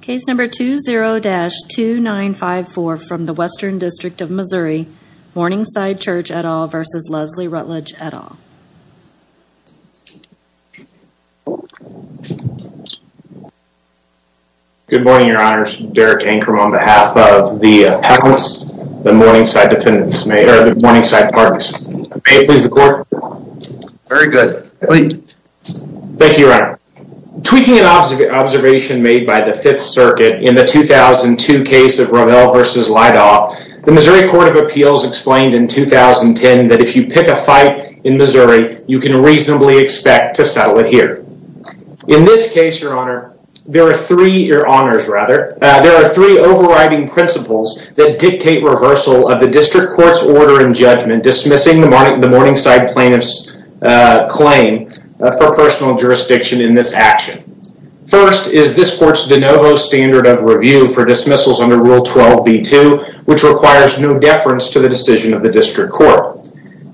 Case number 20-2954 from the Western District of Missouri, Morningside Church, et al. v. Leslie Rutledge, et al. Good morning, Your Honors. Derek Ankrum on behalf of the panelists, the Morningside Dependents, or the Morningside Partners. May it please the Court. Very good. Thank you, Your Honor. Tweaking an observation made by the Fifth Circuit in the 2002 case of Rommel v. Leidoff, the Missouri Court of Appeals explained in 2010 that if you pick a fight in Missouri, you can reasonably expect to settle it here. In this case, Your Honor, there are three overriding principles that dictate reversal of the District Court's order and judgment dismissing the action. First, is this Court's de novo standard of review for dismissals under Rule 12b-2, which requires no deference to the decision of the District Court.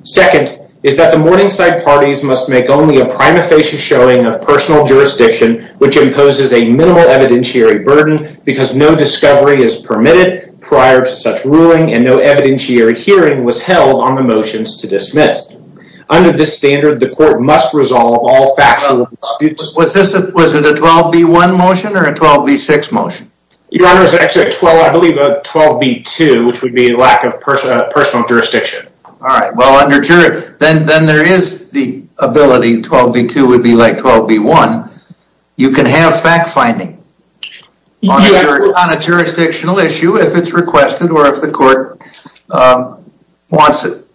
Second, is that the Morningside Parties must make only a prima facie showing of personal jurisdiction which imposes a minimal evidentiary burden because no discovery is permitted prior to such ruling and no evidentiary hearing was held on the motions to dismiss. Under this standard, the Court must resolve all factual disputes. Was this, was it a 12b-1 motion or a 12b-6 motion? Your Honor, it was actually a 12, I believe a 12b-2, which would be lack of personal jurisdiction. All right. Well, under jury, then there is the ability, 12b-2 would be like 12b-1. You can have fact-finding on a jurisdictional issue if it's requested or if the Court wants it.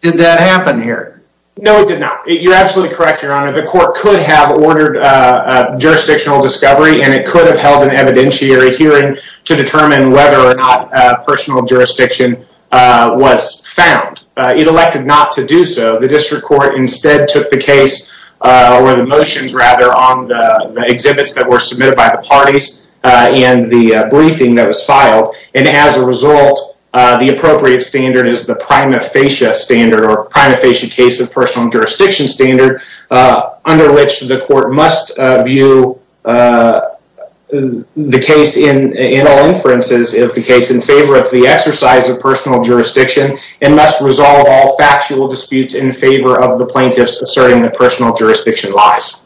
Did that happen here? No, it did not. You're absolutely correct, Your Honor. The Court could have ordered a jurisdictional discovery and it could have held an evidentiary hearing to determine whether or not personal jurisdiction was found. It elected not to do so. The District Court instead took the case or the motions rather on the exhibits that were submitted by the parties in the briefing that was filed. And as a result, the appropriate standard is the prima facie standard or prima facie case of personal jurisdiction standard under which the Court must view the case in all inferences of the case in favor of the exercise of personal jurisdiction and must resolve all factual disputes in favor of the plaintiffs asserting the personal jurisdiction lies.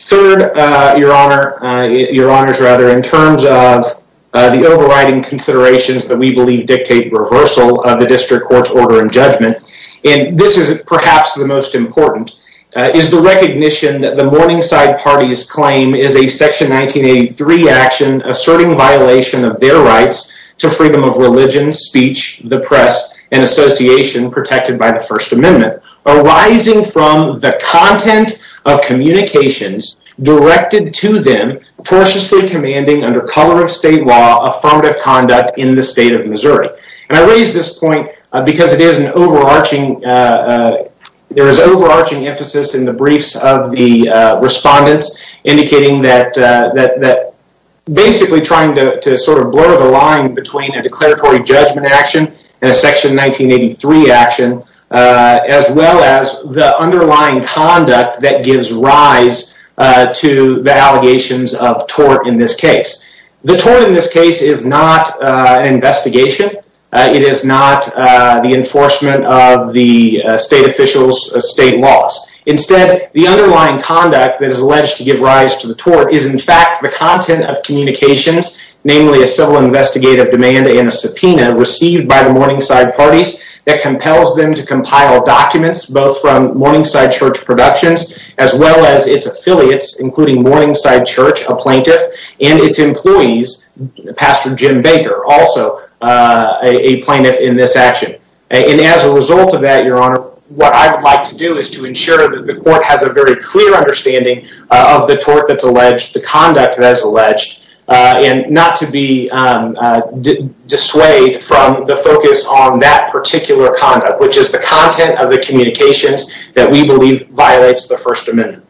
Third, Your Honor, Your Honors rather, in terms of the overriding considerations that we believe dictate reversal of the District Court's order and judgment, and this is perhaps the most important, is the recognition that the Morningside Party's claim is a Section 1983 action asserting violation of their rights to freedom of religion, speech, the press, and association protected by First Amendment arising from the content of communications directed to them tortuously commanding under color of state law affirmative conduct in the state of Missouri. And I raise this point because it is an overarching, there is overarching emphasis in the briefs of the respondents indicating that basically trying to sort of blur the line between a declaratory judgment action and a Section 1983 action, as well as the underlying conduct that gives rise to the allegations of tort in this case. The tort in this case is not an investigation, it is not the enforcement of the state officials' state laws. Instead, the underlying conduct that is alleged to give rise to the tort is in fact the content of communications, namely a civil investigative demand and a subpoena received by the Morningside Parties that compels them to compile documents, both from Morningside Church Productions, as well as its affiliates, including Morningside Church, a plaintiff, and its employees, Pastor Jim Baker, also a plaintiff in this action. And as a result of that, Your Honor, what I would like to do is to ensure that the court has a very dissuade from the focus on that particular conduct, which is the content of the communications that we believe violates the First Amendment.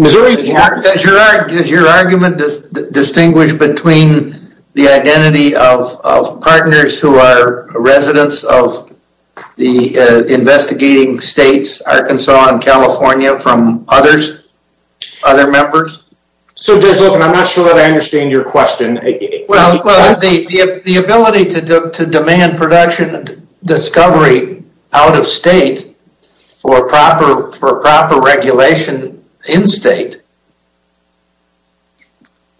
Does your argument distinguish between the identity of partners who are residents of the investigating states, Arkansas and California, from others, other members? So Judge Olken, I'm not sure that I understand your question. Well, the ability to demand production and discovery out of state for proper regulation in state.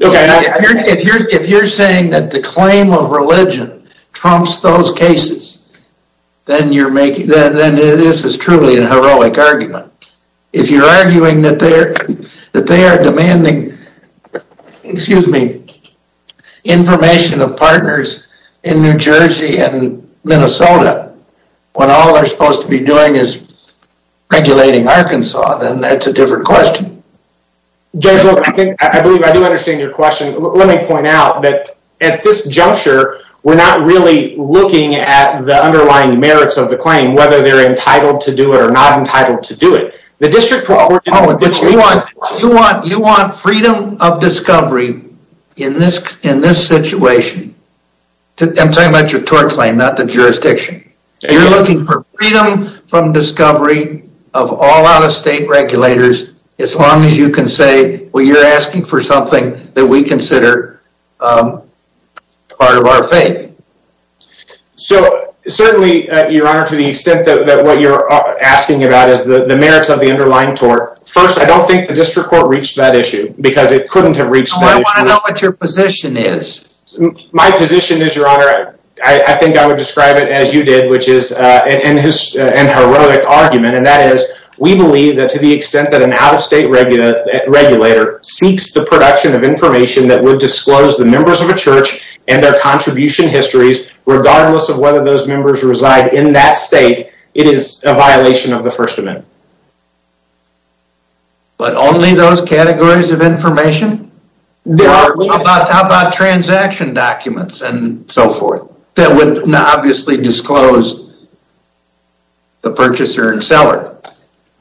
If you're saying that the claim of religion trumps those cases, then this is truly an demanding information of partners in New Jersey and Minnesota. When all they're supposed to be doing is regulating Arkansas, then that's a different question. Judge Olken, I believe I do understand your question. Let me point out that at this juncture, we're not really looking at the underlying merits of the claim, whether they're entitled to do it or not entitled to do it. The district... You want freedom of discovery in this situation. I'm talking about your tort claim, not the jurisdiction. You're looking for freedom from discovery of all out-of-state regulators, as long as you can say, well, you're asking for something that we consider part of our faith. So certainly, your honor, to the extent that what you're asking about is the merits of the underlying tort, first, I don't think the district court reached that issue because it couldn't have reached that issue. I want to know what your position is. My position is, your honor, I think I would describe it as you did, which is an heroic argument. And that is, we believe that to the extent that an out-of-state regulator seeks the production of information that would disclose the members of a church and their contribution histories, regardless of whether those members reside in that state, it is a violation of the First Amendment. But only those categories of information? How about transaction documents and so forth that would obviously disclose the purchaser and seller?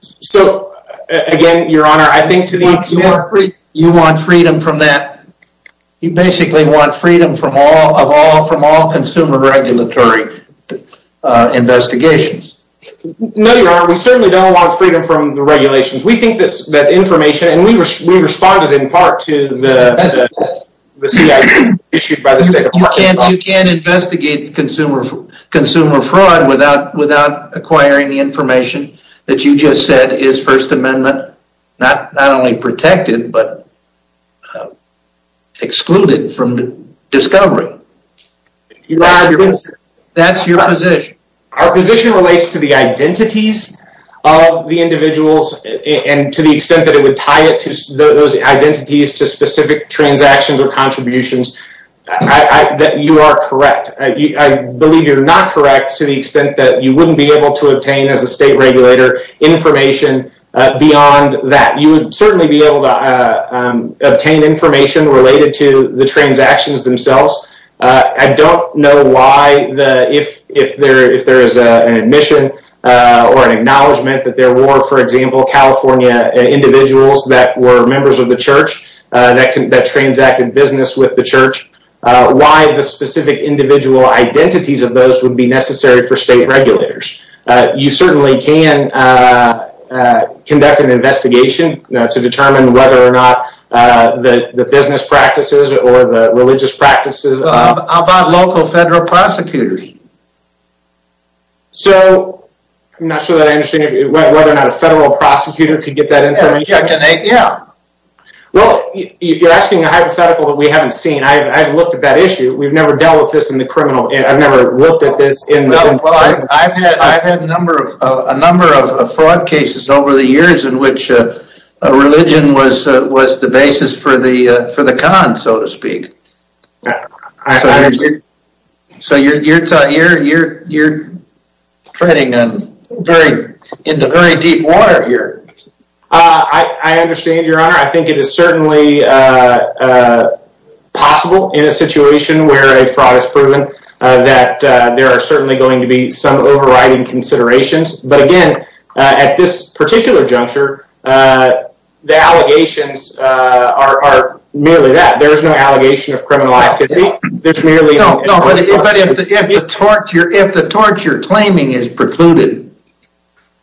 So, again, your honor, I think to the extent... You want freedom from that. You basically want freedom from all consumer regulatory investigations. No, your honor, we certainly don't want freedom from the regulations. We think that information... And we responded in part to the CIP issued by the State Department. You can't investigate consumer fraud without acquiring the information that you just said is First Amendment, not only protected, but excluded from discovery. That's your position. Our position relates to the identities of the individuals and to the extent that it would tie those identities to specific transactions or contributions, that you are correct. I believe you're not correct to the extent that you wouldn't be able to obtain, as a state regulator, information beyond that. You would certainly be able to obtain information related to the transactions themselves. I don't know why, if there is an admission or an acknowledgement that there were, for example, California individuals that were members of the church that transacted business with the church, why the specific individual identities of those would be necessary for state regulators. You certainly can conduct an investigation to determine whether or not the business practices or the religious practices... How about local federal prosecutors? So, I'm not sure that I understand whether or not a federal prosecutor could get that information. Yeah. Well, you're asking a hypothetical that we haven't seen. I haven't looked at that issue. We've never dealt with this in the criminal... I've never looked at this... I've had a number of fraud cases over the years in which religion was the basis for the cons, so to speak. So, you're treading into very deep water here. I understand, Your Honor. I think it is certainly possible in a situation where a fraud is proven that there are certainly going to be some overriding considerations. But again, at this particular juncture, the allegations are merely that. There is no allegation of criminal activity. There's merely... If the charge you're claiming is precluded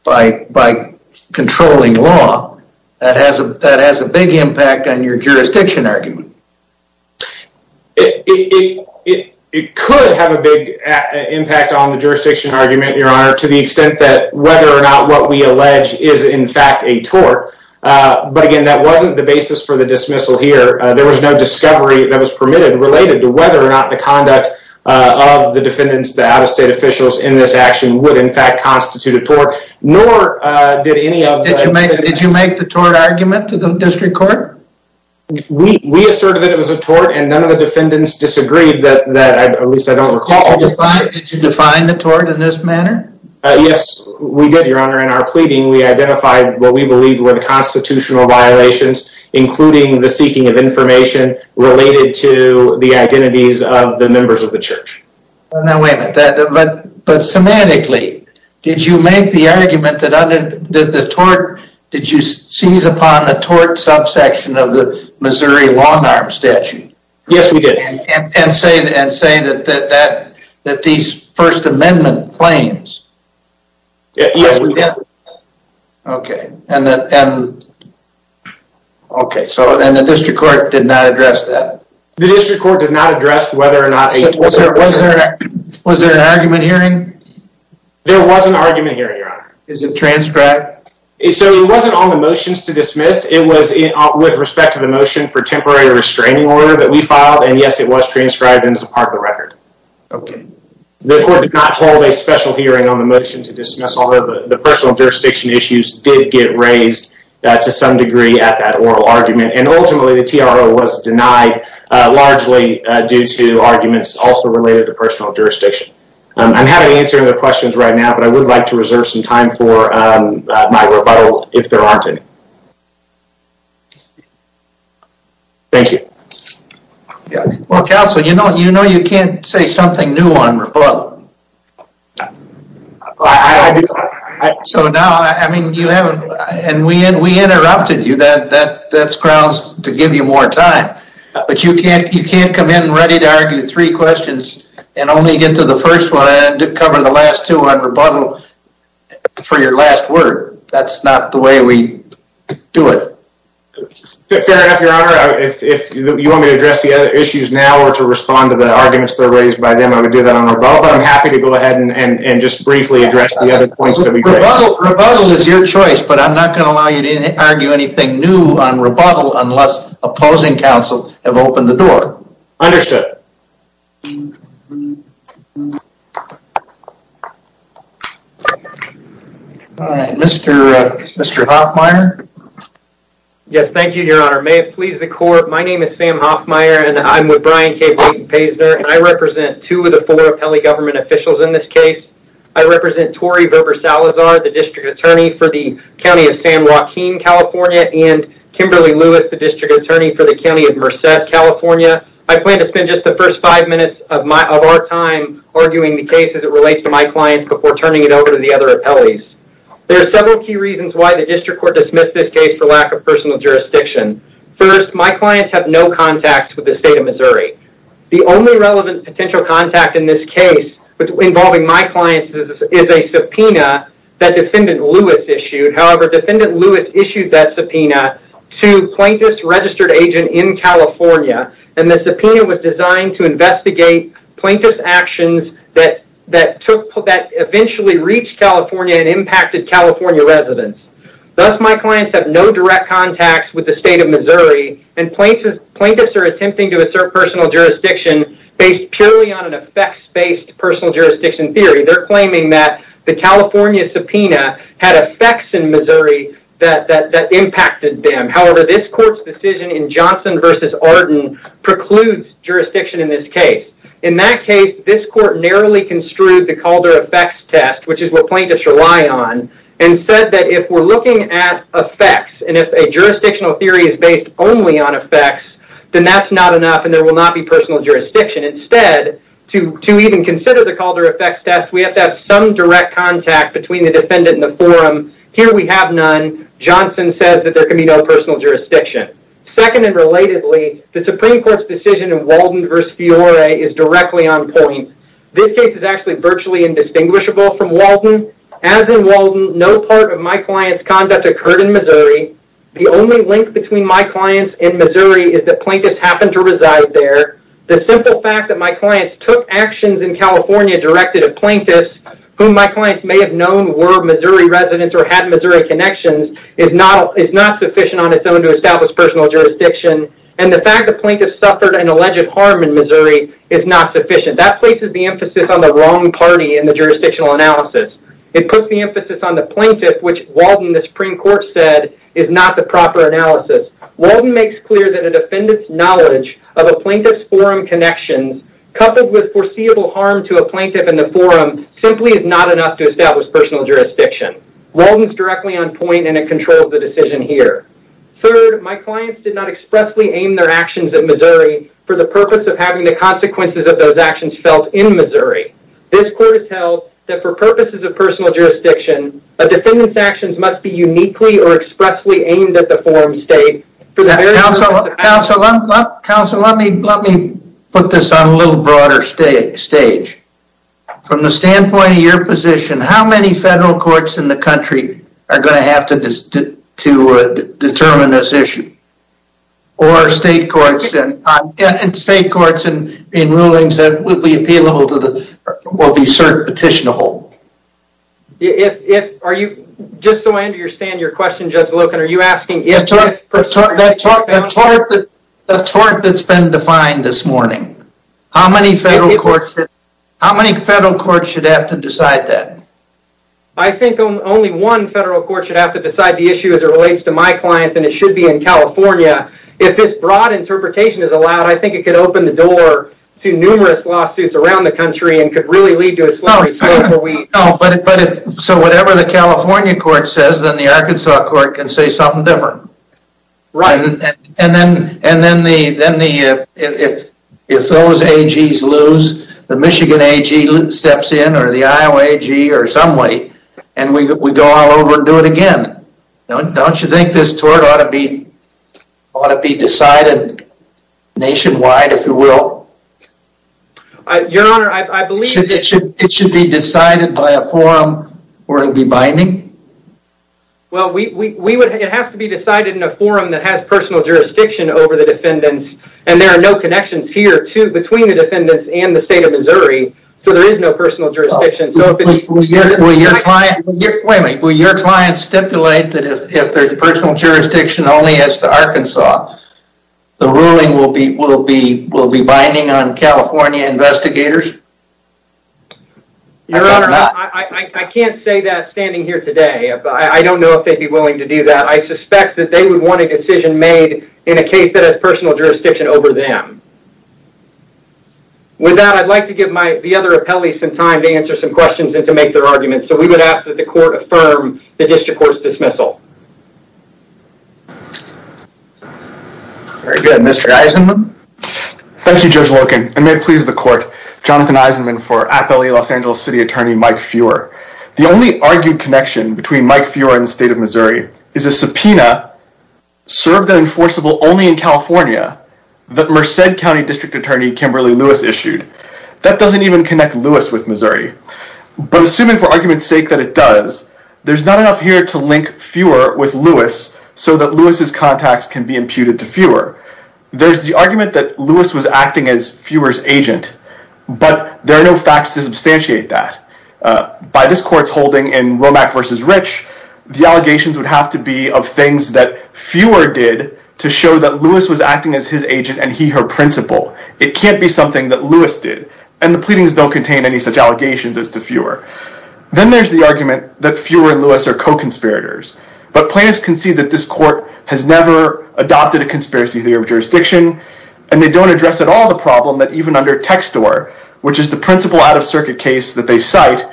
by controlling law, that has a big impact on your jurisdiction argument. It could have a big impact on the jurisdiction argument, Your Honor, to the extent that whether or not what we allege is, in fact, a tort. But again, that wasn't the basis for the dismissal here. There was no discovery that was permitted related to whether or not the conduct of the defendants, the out-of-state officials, in this action would, in fact, constitute a tort, nor did any of... Did you make the tort argument to the district court? We asserted that it was a tort, and none of the defendants disagreed that, at least I don't recall... Did you define the tort in this manner? Yes, we did, Your Honor. In our pleading, we identified what we believed were the constitutional violations, including the seeking of information related to the identities of the members of the church. Now, wait a minute. But semantically, did you make the argument that under the tort, did you seize upon the tort subsection of the Missouri long-arm statute? Yes, we did. And say that these First Amendment claims... Yes, we did. Okay, and the district court did not address that? The district court did not address whether or not... Was there an argument hearing? There was an argument hearing, Your Honor. Is it transcribed? So, it wasn't on the motions to dismiss. It was with respect to the motion for temporary restraining order that we filed. And yes, it was transcribed and is a part of the record. Okay. The court did not hold a special hearing on the motion to dismiss, although the personal jurisdiction issues did get raised to some degree at that oral argument. And ultimately, the TRO was denied largely due to arguments also related to personal jurisdiction. I'm having to answer the questions right now, but I would like to reserve some time for my rebuttal if there aren't any. Thank you. Yeah. Well, Counsel, you know you can't say something new on rebuttal. So now, I mean, you haven't... And we interrupted you. That's grounds to give you more time. But you can't come in ready to argue three questions and only get to the first one and cover the last two on rebuttal for your last word. That's not the way we do it. Fair enough, Your Honor. If you want me to address the other issues now or to respond to the arguments that are raised by them, I would do that on rebuttal. I'm happy to go ahead and just briefly address the other points that we raised. Rebuttal is your choice, but I'm not going to allow you to argue anything new on rebuttal unless opposing counsel have opened the door. Understood. All right, Mr. Hofmeyer. Yes, thank you, Your Honor. May it please the court. My name is Sam Hofmeyer, and I'm with Brian K. Blayton-Paysner, and I represent two of the four appellee government officials in this case. I represent Tori Verber-Salazar, the district attorney for the county of San Joaquin, California, and Kimberly Lewis, the district attorney for the county of Merced, California. I plan to spend just the first five minutes of our time arguing the case as it relates to my clients before turning it over to the other appellees. There are several key reasons why the district court dismissed this case for lack of personal jurisdiction. First, my clients have no contacts with the state of Missouri. The only relevant potential contact in this case involving my clients is a subpoena that Defendant Lewis issued. However, Defendant Lewis issued that subpoena to a plaintiff's registered agent in California, and the subpoena was designed to investigate plaintiff's actions that eventually reached California and impacted California residents. Thus, my clients have no direct contacts with the state of Missouri, and plaintiffs are attempting to assert personal jurisdiction based purely on an effects-based personal jurisdiction theory. They're claiming that the California subpoena had effects in Missouri that impacted them. However, this court's decision in Johnson v. Arden precludes jurisdiction in this case. In that case, this court narrowly construed the Calder effects test, which is what plaintiffs rely on, and said that if we're looking at effects, and if a jurisdictional theory is based only on effects, then that's not enough, and there will not be personal jurisdiction. Instead, to even consider the Calder effects test, we have to have some direct contact between the defendant and the forum. Here, we have none. Johnson says that there can be no personal jurisdiction. Second and relatedly, the Supreme Court's decision in Walden v. Fiore is directly on point. This case is actually virtually indistinguishable from Walden. As in Walden, no part of my client's conduct occurred in Missouri. The only link between my clients and Missouri is that plaintiffs happened to reside there. The simple fact that my clients took actions in California directed at plaintiffs, whom my clients may have known were Missouri residents or had Missouri connections, is not sufficient on its own to establish personal jurisdiction, and the fact that plaintiffs suffered an alleged harm in Missouri is not sufficient. That places the emphasis on the wrong party in the jurisdictional analysis. It puts the emphasis on the plaintiff, which Walden, the Supreme Court said, is not the proper analysis. Walden makes clear that a defendant's knowledge of a plaintiff's forum connections coupled with foreseeable harm to a plaintiff in the forum simply is not enough to establish personal jurisdiction. Walden's directly on point, and it controls the decision here. Third, my clients did not expressly aim their actions in Missouri for the purpose of having the consequences of those actions felt in Missouri. This court has held that for purposes of personal jurisdiction, a defendant's actions must be uniquely or expressly aimed at the forum state. Counselor, let me put this on a little broader stage. From the standpoint of your position, how many federal courts in the country are going to have to determine this issue? Or state courts, and state courts in rulings that would be appealable to the, will be cert petitionable? Are you, just so I understand your question, Judge Loken, are you asking if- The tort that's been defined this morning, how many federal courts, how many federal courts should have to decide that? I think only one federal court should have to decide the issue as it relates to my clients, and it should be in California. If this broad interpretation is allowed, I think it could open the door to numerous lawsuits around the country, and could really lead to a slurry. No, but if, so whatever the California court says, then the Arkansas court can say something different. Right. And then, if those AGs lose, the Michigan AG steps in, or the Iowa AG, or some way, and we go all over and do it again. Don't you think this tort ought to be decided nationwide, if you will? Your Honor, I believe- It should be decided by a forum where it'll be binding? Well, it has to be decided in a forum that has personal jurisdiction over the defendants, and there are no connections here between the defendants and the state of Missouri, so there is no personal jurisdiction. Will your client stipulate that if there's personal jurisdiction only as to Arkansas, the ruling will be binding on California investigators? Your Honor, I can't say that standing here today. I don't know if they'd be willing to do that. I suspect that they would want a decision made in a case that has personal jurisdiction over them. With that, I'd like to give the other appellees some time to answer some questions and to make their arguments, so we would ask that the court affirm the district court's dismissal. Very good. Mr. Eisenman? Thank you, Judge Loken, and may it please the court. Jonathan Eisenman for Appellee Los Angeles City Attorney Mike Feuer. The only argued connection between Mike Feuer and the state of Missouri is a subpoena served and enforceable only in California that Merced County District Attorney Kimberly Lewis issued. That doesn't even connect Lewis with Missouri, but assuming for argument's sake that it does, there's not enough here to link Feuer with Lewis so that Lewis's contacts can be imputed to Feuer. There's the argument that Lewis was acting as Feuer's agent, but there are no facts to substantiate that. By this court's holding in Womack v. Rich, the allegations would have to be of things that agent and he her principal. It can't be something that Lewis did, and the pleadings don't contain any such allegations as to Feuer. Then there's the argument that Feuer and Lewis are co-conspirators, but plaintiffs can see that this court has never adopted a conspiracy theory of jurisdiction, and they don't address at all the problem that even under Textor, which is the principal out-of-circuit case that they cite,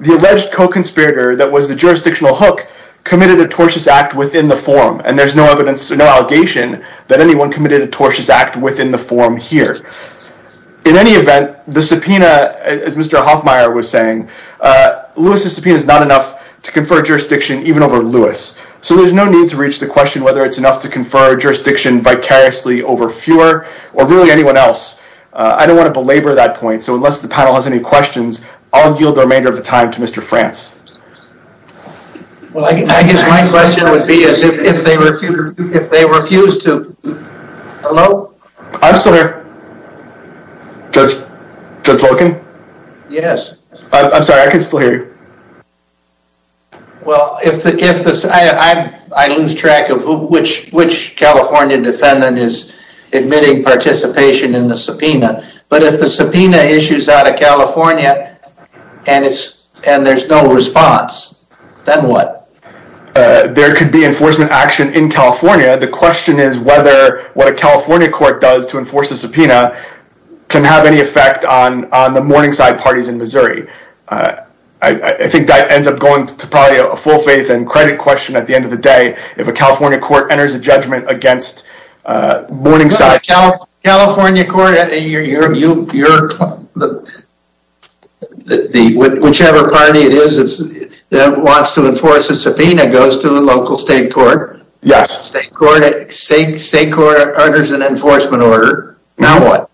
the alleged co-conspirator that was the jurisdictional hook committed a tortious act within the forum, and there's no evidence, no allegation that anyone committed a tortious act within the forum here. In any event, the subpoena, as Mr. Hoffmeier was saying, Lewis's subpoena is not enough to confer jurisdiction even over Lewis, so there's no need to reach the question whether it's enough to confer jurisdiction vicariously over Feuer or really anyone else. I don't want to belabor that point, so unless the panel has any questions, I'll yield the remainder of the time to Mr. France. Well, I guess my question would be is if they refuse to... Hello? I'm still here. Judge Volkin? Yes. I'm sorry, I can still hear you. Well, I lose track of which California defendant is admitting participation in the subpoena, but if the subpoena issues out of California and there's no response, then what? There could be enforcement action in California. The question is whether what a California court does to enforce the subpoena can have any effect on the Morningside parties in Missouri. I think that ends up going to probably a full faith and credit question at the end of the day if a California court enters a judgment against Morningside. California court... Whichever party it is that wants to enforce a subpoena goes to the local state court. Yes. State court orders an enforcement order. Now what?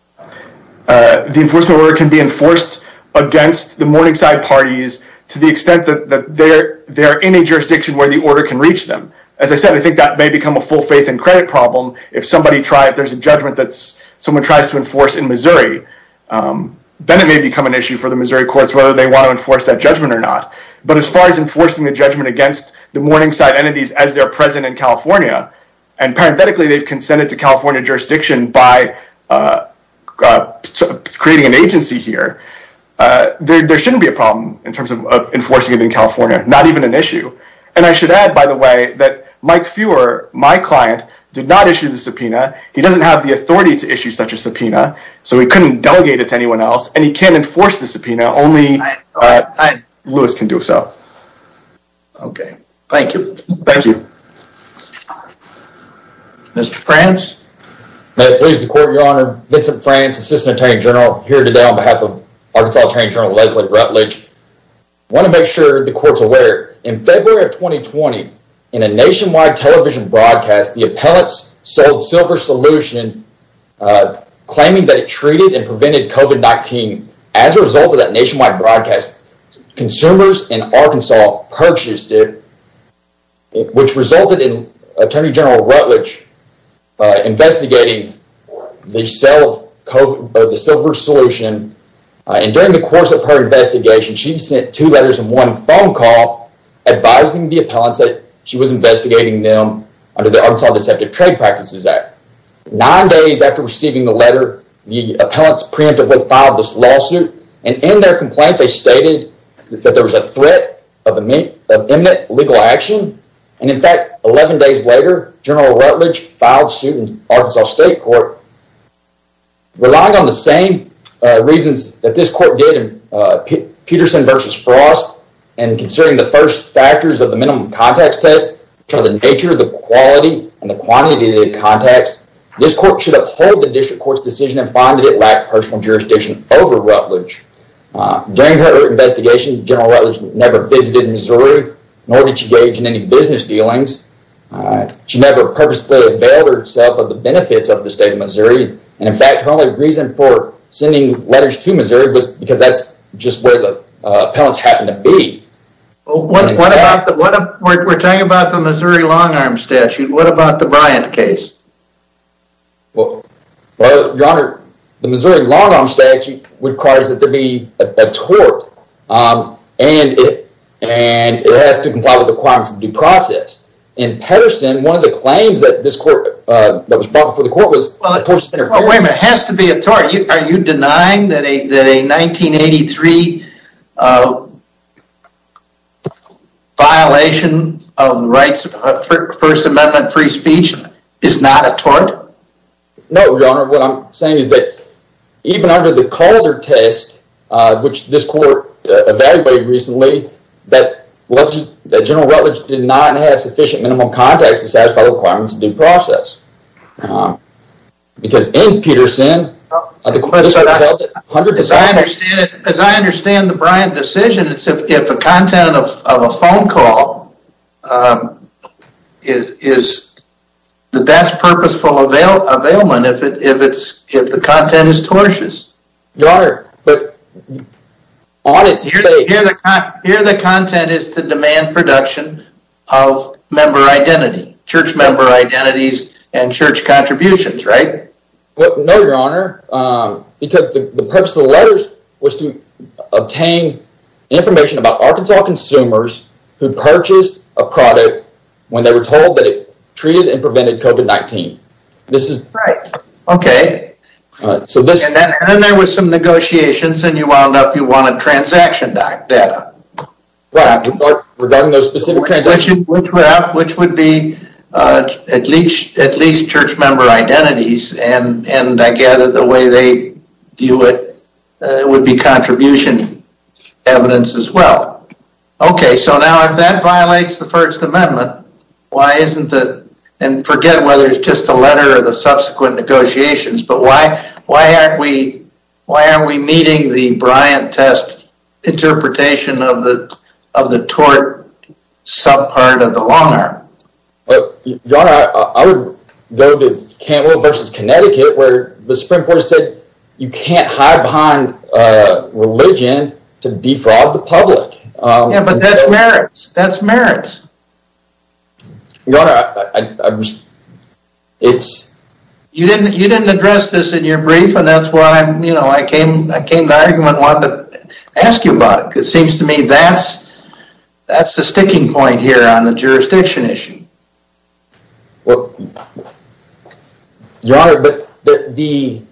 The enforcement order can be enforced against the Morningside parties to the extent that they're in a jurisdiction where the order can reach them. As I said, I think that may become a full faith and credit problem if somebody tries... If there's a judgment that someone tries to enforce in Missouri, then it may become an issue for the Missouri courts whether they want to enforce that judgment or not. But as far as enforcing the judgment against the Morningside entities as they're present in California, and parenthetically, they've consented to California jurisdiction by creating an agency here, there shouldn't be a problem in terms of enforcing it in California. Not even an issue. And I should add, by the way, that Mike Feuer, my client, did not issue the subpoena. He doesn't have the authority to issue such a subpoena, so he couldn't delegate it to anyone else, and he can't enforce the subpoena. Only Lewis can do so. Okay. Thank you. Thank you. Mr. France? May it please the court, your honor. Vincent France, Assistant Attorney General here today on behalf of Arkansas Attorney General Leslie Rutledge. I want to make sure the court's aware, in February of 2020, in a nationwide television broadcast, the appellants sold Silver Solution, claiming that it treated and prevented COVID-19. As a result of that nationwide broadcast, consumers in Arkansas purchased it, which resulted in Attorney General Rutledge investigating the sale of the Silver Solution. And during the course of her investigation, she sent two letters and one phone call advising the appellants that she was investigating them under the Arkansas Deceptive Trade Practices Act. Nine days after receiving the letter, the appellants preemptively filed this lawsuit, and in their complaint, they stated that there was a threat of imminent legal action. And in fact, 11 days later, General Rutledge filed suit in Arkansas State Court, relying on the same reasons that this court did Peterson v. Frost, and considering the first factors of the minimum context test, which are the nature, the quality, and the quantity of the contacts, this court should uphold the district court's decision and find that it lacked personal jurisdiction over Rutledge. During her investigation, General Rutledge never visited Missouri, nor did she engage in any business dealings. She never purposely availed herself of the benefits of the state of Missouri. And in fact, her only reason for sending letters to Missouri because that's just where the appellants happen to be. We're talking about the Missouri long-arm statute. What about the Bryant case? Well, your honor, the Missouri long-arm statute requires that there be a tort, and it has to comply with the requirements of due process. In Peterson, one of the claims that this court, that was brought before the court was... Well, wait a minute, it has to be a tort. Are you denying that a 1983 violation of the rights of First Amendment free speech is not a tort? No, your honor. What I'm saying is that even under the Calder test, which this court evaluated recently, that General Rutledge did not have sufficient minimum context to satisfy the requirements of due process. No. Because in Peterson... As I understand the Bryant decision, it's if the content of a phone call is the best purposeful availment if the content is tortious. Your honor, but... Here the content is to demand production of member identity, church member identities, and church contributions, right? Well, no, your honor, because the purpose of the letters was to obtain information about Arkansas consumers who purchased a product when they were told that it treated and prevented COVID-19. This is... Right, okay. So this... And then there was some negotiations and you wound up, you wanted transaction data. Right, regarding those specific transactions. Which would be at least church member identities, and I gather the way they view it would be contribution evidence as well. Okay, so now if that violates the First Amendment, why isn't it... And forget whether it's just a letter or the subsequent negotiations, but why aren't we meeting the Bryant test interpretation of the tort subpart of the long arm? Well, your honor, I would go to Cantwell versus Connecticut, where the Supreme Court said you can't hide behind a religion to defraud the public. Yeah, but that's merits. That's merits. Your honor, it's... You didn't address this in your brief, and that's why I came to the argument and wanted to ask you about it, because it seems to me that's the sticking point here on the jurisdiction issue. Well, your honor, the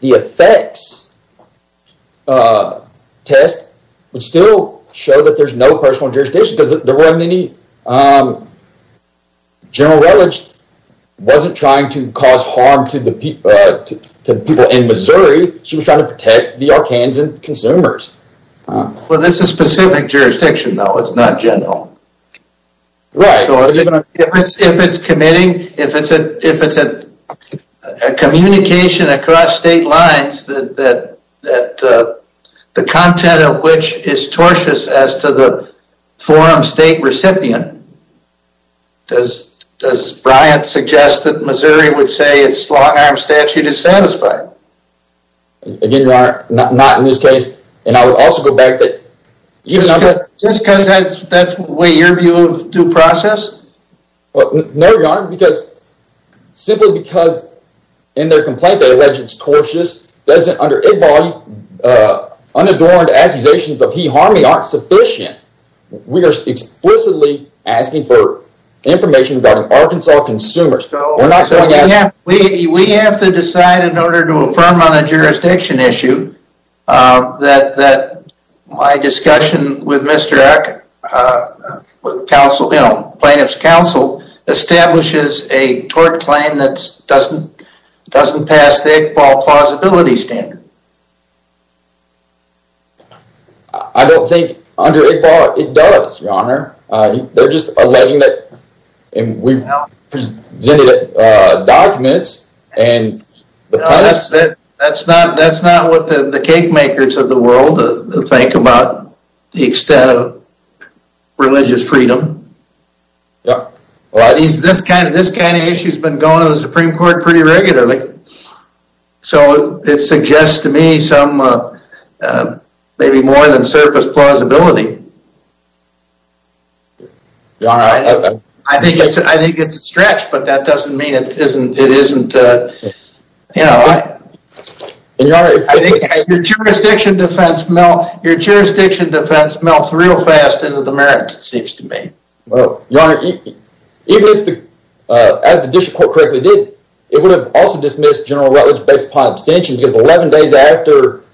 effects test would still show that there's no personal jurisdiction, because there weren't any... General Relich wasn't trying to cause harm to the people in Missouri. She was trying to protect the Arkansans and consumers. Well, this is specific jurisdiction, though. It's not general. Right. So if it's committing, if it's a communication across state lines that the content of which is tortious as to the forum state recipient, does Bryant suggest that Missouri would say its long arm statute is satisfied? Again, your honor, not in this case. And I would also go back that... Just because that's what your view of due process? No, your honor, because simply because in their complaint, they allege it's tortious doesn't... Under IGBAL, unadorned accusations of he-harming aren't sufficient. We are explicitly asking for information regarding Arkansas consumers. We're not saying that... We have to decide in order to affirm on a jurisdiction issue that my discussion with Mr. Ark... With counsel, plaintiff's counsel, establishes a tort claim that doesn't pass the IGBAL plausibility standard. I don't think under IGBAL, it does, your honor. They're just alleging that... And we presented documents and... That's not what the cake makers of the world think about the extent of religious freedom. This kind of issue has been going to the Supreme Court pretty regularly. So it suggests to me some maybe more than surface plausibility. Your honor, I have... I think it's a stretch, but that doesn't mean it isn't... Your jurisdiction defense melts real fast into the merits, it seems to me. Well, your honor, even if the... As the district court correctly did, it would have also dismissed General Rutledge based upon abstention because 11 days after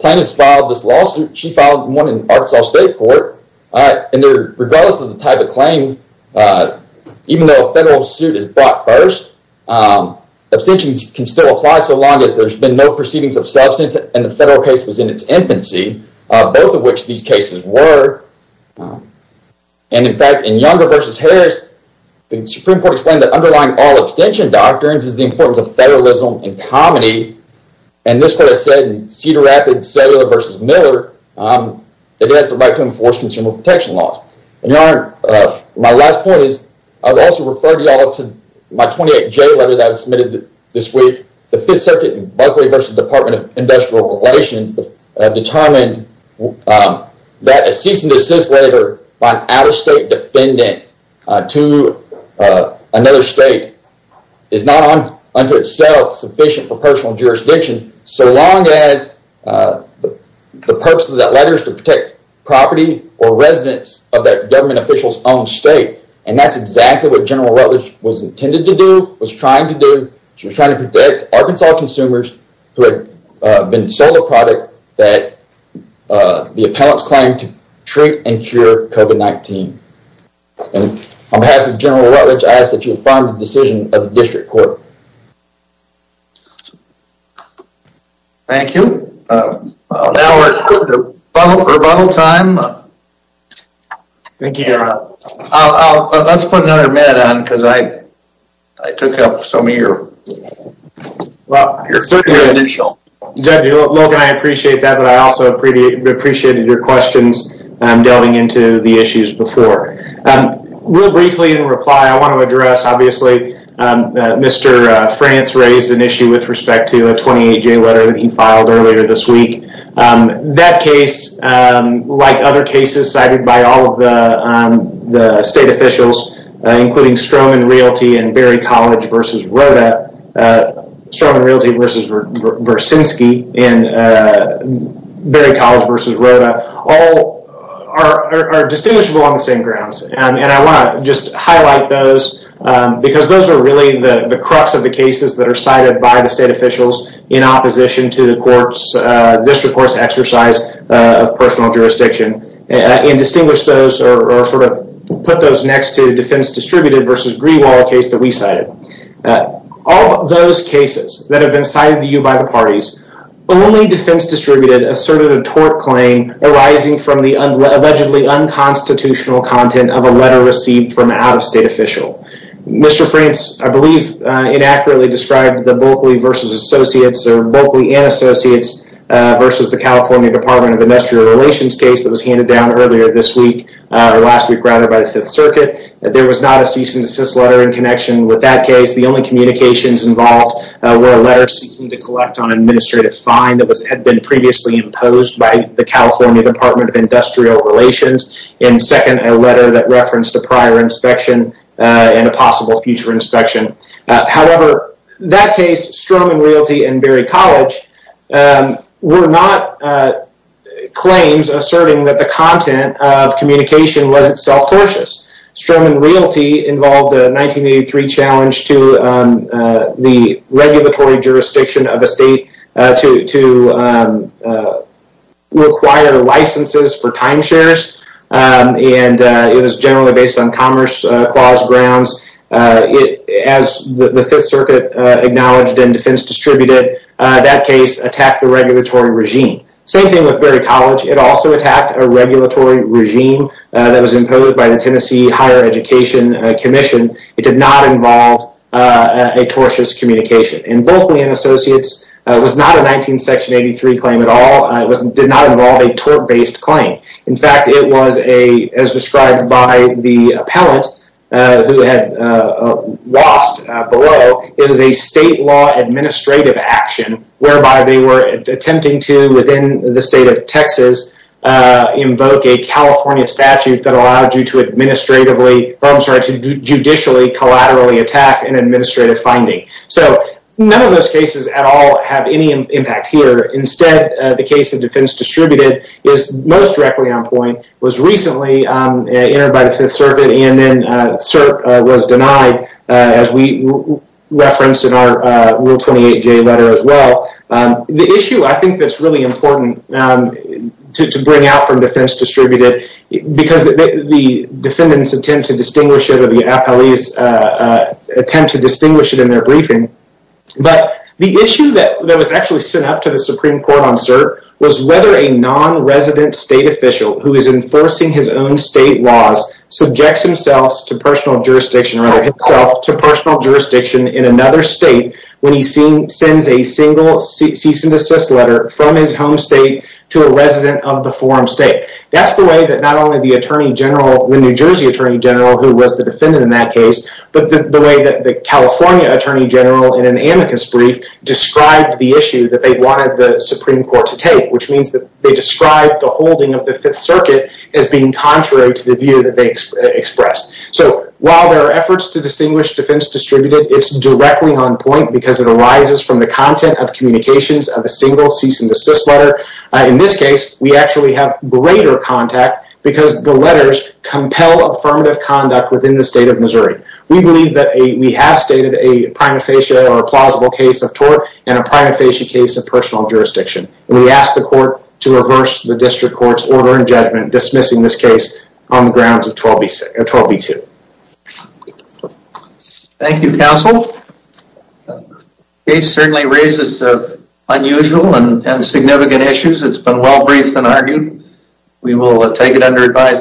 plaintiff's filed this lawsuit, she filed one in Arkansas State Court and regardless of the type of claim, even though a federal suit is brought first, abstentions can still apply so long as there's been no proceedings of substance and the federal case was in its infancy, both of which these cases were. And in fact, in Younger v. Harris, the Supreme Court explained that underlying all abstention doctrines is the importance of federalism and comedy. It has the right to enforce consumer protection laws. And your honor, my last point is, I would also refer you all to my 28-J letter that was submitted this week. The 5th Circuit in Buckley v. Department of Industrial Relations determined that a cease and desist letter by an out-of-state defendant to another state is not unto itself sufficient for personal jurisdiction so long as the purpose of that letter is to protect property or residents of that government official's own state. And that's exactly what General Rutledge was intended to do, was trying to do. She was trying to protect Arkansas consumers who had been sold a product that the appellants claimed to treat and cure COVID-19. And on behalf of General Rutledge, I ask that you affirm the decision of the District Court. Thank you. Now we're at rebuttal time. Thank you, your honor. Let's put another minute on because I took up some of your initial. Logan, I appreciate that, but I also appreciated your questions delving into the issues before. Real briefly in reply, I want to address, obviously, Mr. France raised an issue with respect to a 28-J letter that he filed earlier this week. That case, like other cases cited by all of the state officials, including Stroman Realty and Berry College v. Rhoda, Stroman Realty v. Vercinski and Berry College v. Rhoda, all are distinguishable on the same grounds. And I want to just highlight those because those are really the crux of the cases that are cited by the state officials in opposition to the District Court's exercise of personal jurisdiction and distinguish those or sort of put those next to Defense Distributed v. Greewall case that we cited. All those cases that have been cited to you by the parties, only Defense Distributed asserted a tort claim arising from the allegedly unconstitutional content of a letter received from an out-of-state official. Mr. France, I believe, inaccurately described the Bulkley v. Associates or Bulkley and Associates v. the California Department of Industrial Relations case that was handed down earlier this week, or last week rather, by the Fifth Circuit. There was not a cease and desist letter in connection with that case. The only communications involved were a letter seeking to collect on an administrative fine that had been previously imposed by the California Department of Industrial Relations and second, a letter that referenced a prior inspection and a possible future inspection. However, that case, Stroman Realty and Berry College, were not claims asserting that the content of communication was itself tortious. Stroman Realty involved a 1983 challenge to the regulatory jurisdiction of a state to require licenses for timeshares, and it was generally based on Commerce Clause grounds. As the Fifth Circuit acknowledged in Defense Distributed, that case attacked the regulatory regime. Same thing with Berry College, it also attacked a regulatory regime that was imposed by the Tennessee Higher Education Commission. It did not involve a tortious communication. Berkley and Associates was not a 1983 claim at all. It did not involve a tort-based claim. In fact, it was, as described by the appellant who had lost below, it was a state law administrative action whereby they were attempting to, within the state of Texas, invoke a California statute that allowed you to judicially, collaterally attack an administrative finding. So, none of those cases at all have any impact here. Instead, the case of Defense Distributed is most directly on point, was recently entered by the Fifth Circuit, and then CERT was denied, as we referenced in our Rule 28J letter as well. The issue I think that's really important to bring out from Defense Distributed, because the defendants attempt to distinguish it, the appellees attempt to distinguish it in their briefing, but the issue that was actually sent up to the Supreme Court on CERT was whether a non-resident state official who is enforcing his own state laws subjects himself to personal jurisdiction, or rather himself to personal jurisdiction in another state when he sends a single cease and desist letter from his home state to a resident of the forum state. That's the way that not only the attorney general, the New Jersey attorney general who was the defendant in that case, but the way that the California attorney general in an amicus brief described the issue that they wanted the Supreme Court to take, which means that they described the holding of the Fifth Circuit as being contrary to the view that they expressed. So, while there are efforts to distinguish Defense Distributed, it's directly on point because it arises from the content of communications of a single cease and desist letter. In this case, we actually have greater contact because the letters compel affirmative conduct within the state of Missouri. We believe that we have stated a prima facie or plausible case of tort and a prima facie case of personal jurisdiction. We ask the court to reverse the district court's order and judgment dismissing this case on the grounds of 12B2. Thank you, counsel. It certainly raises unusual and significant issues. It's been well-briefed and argued. We will take it under advice.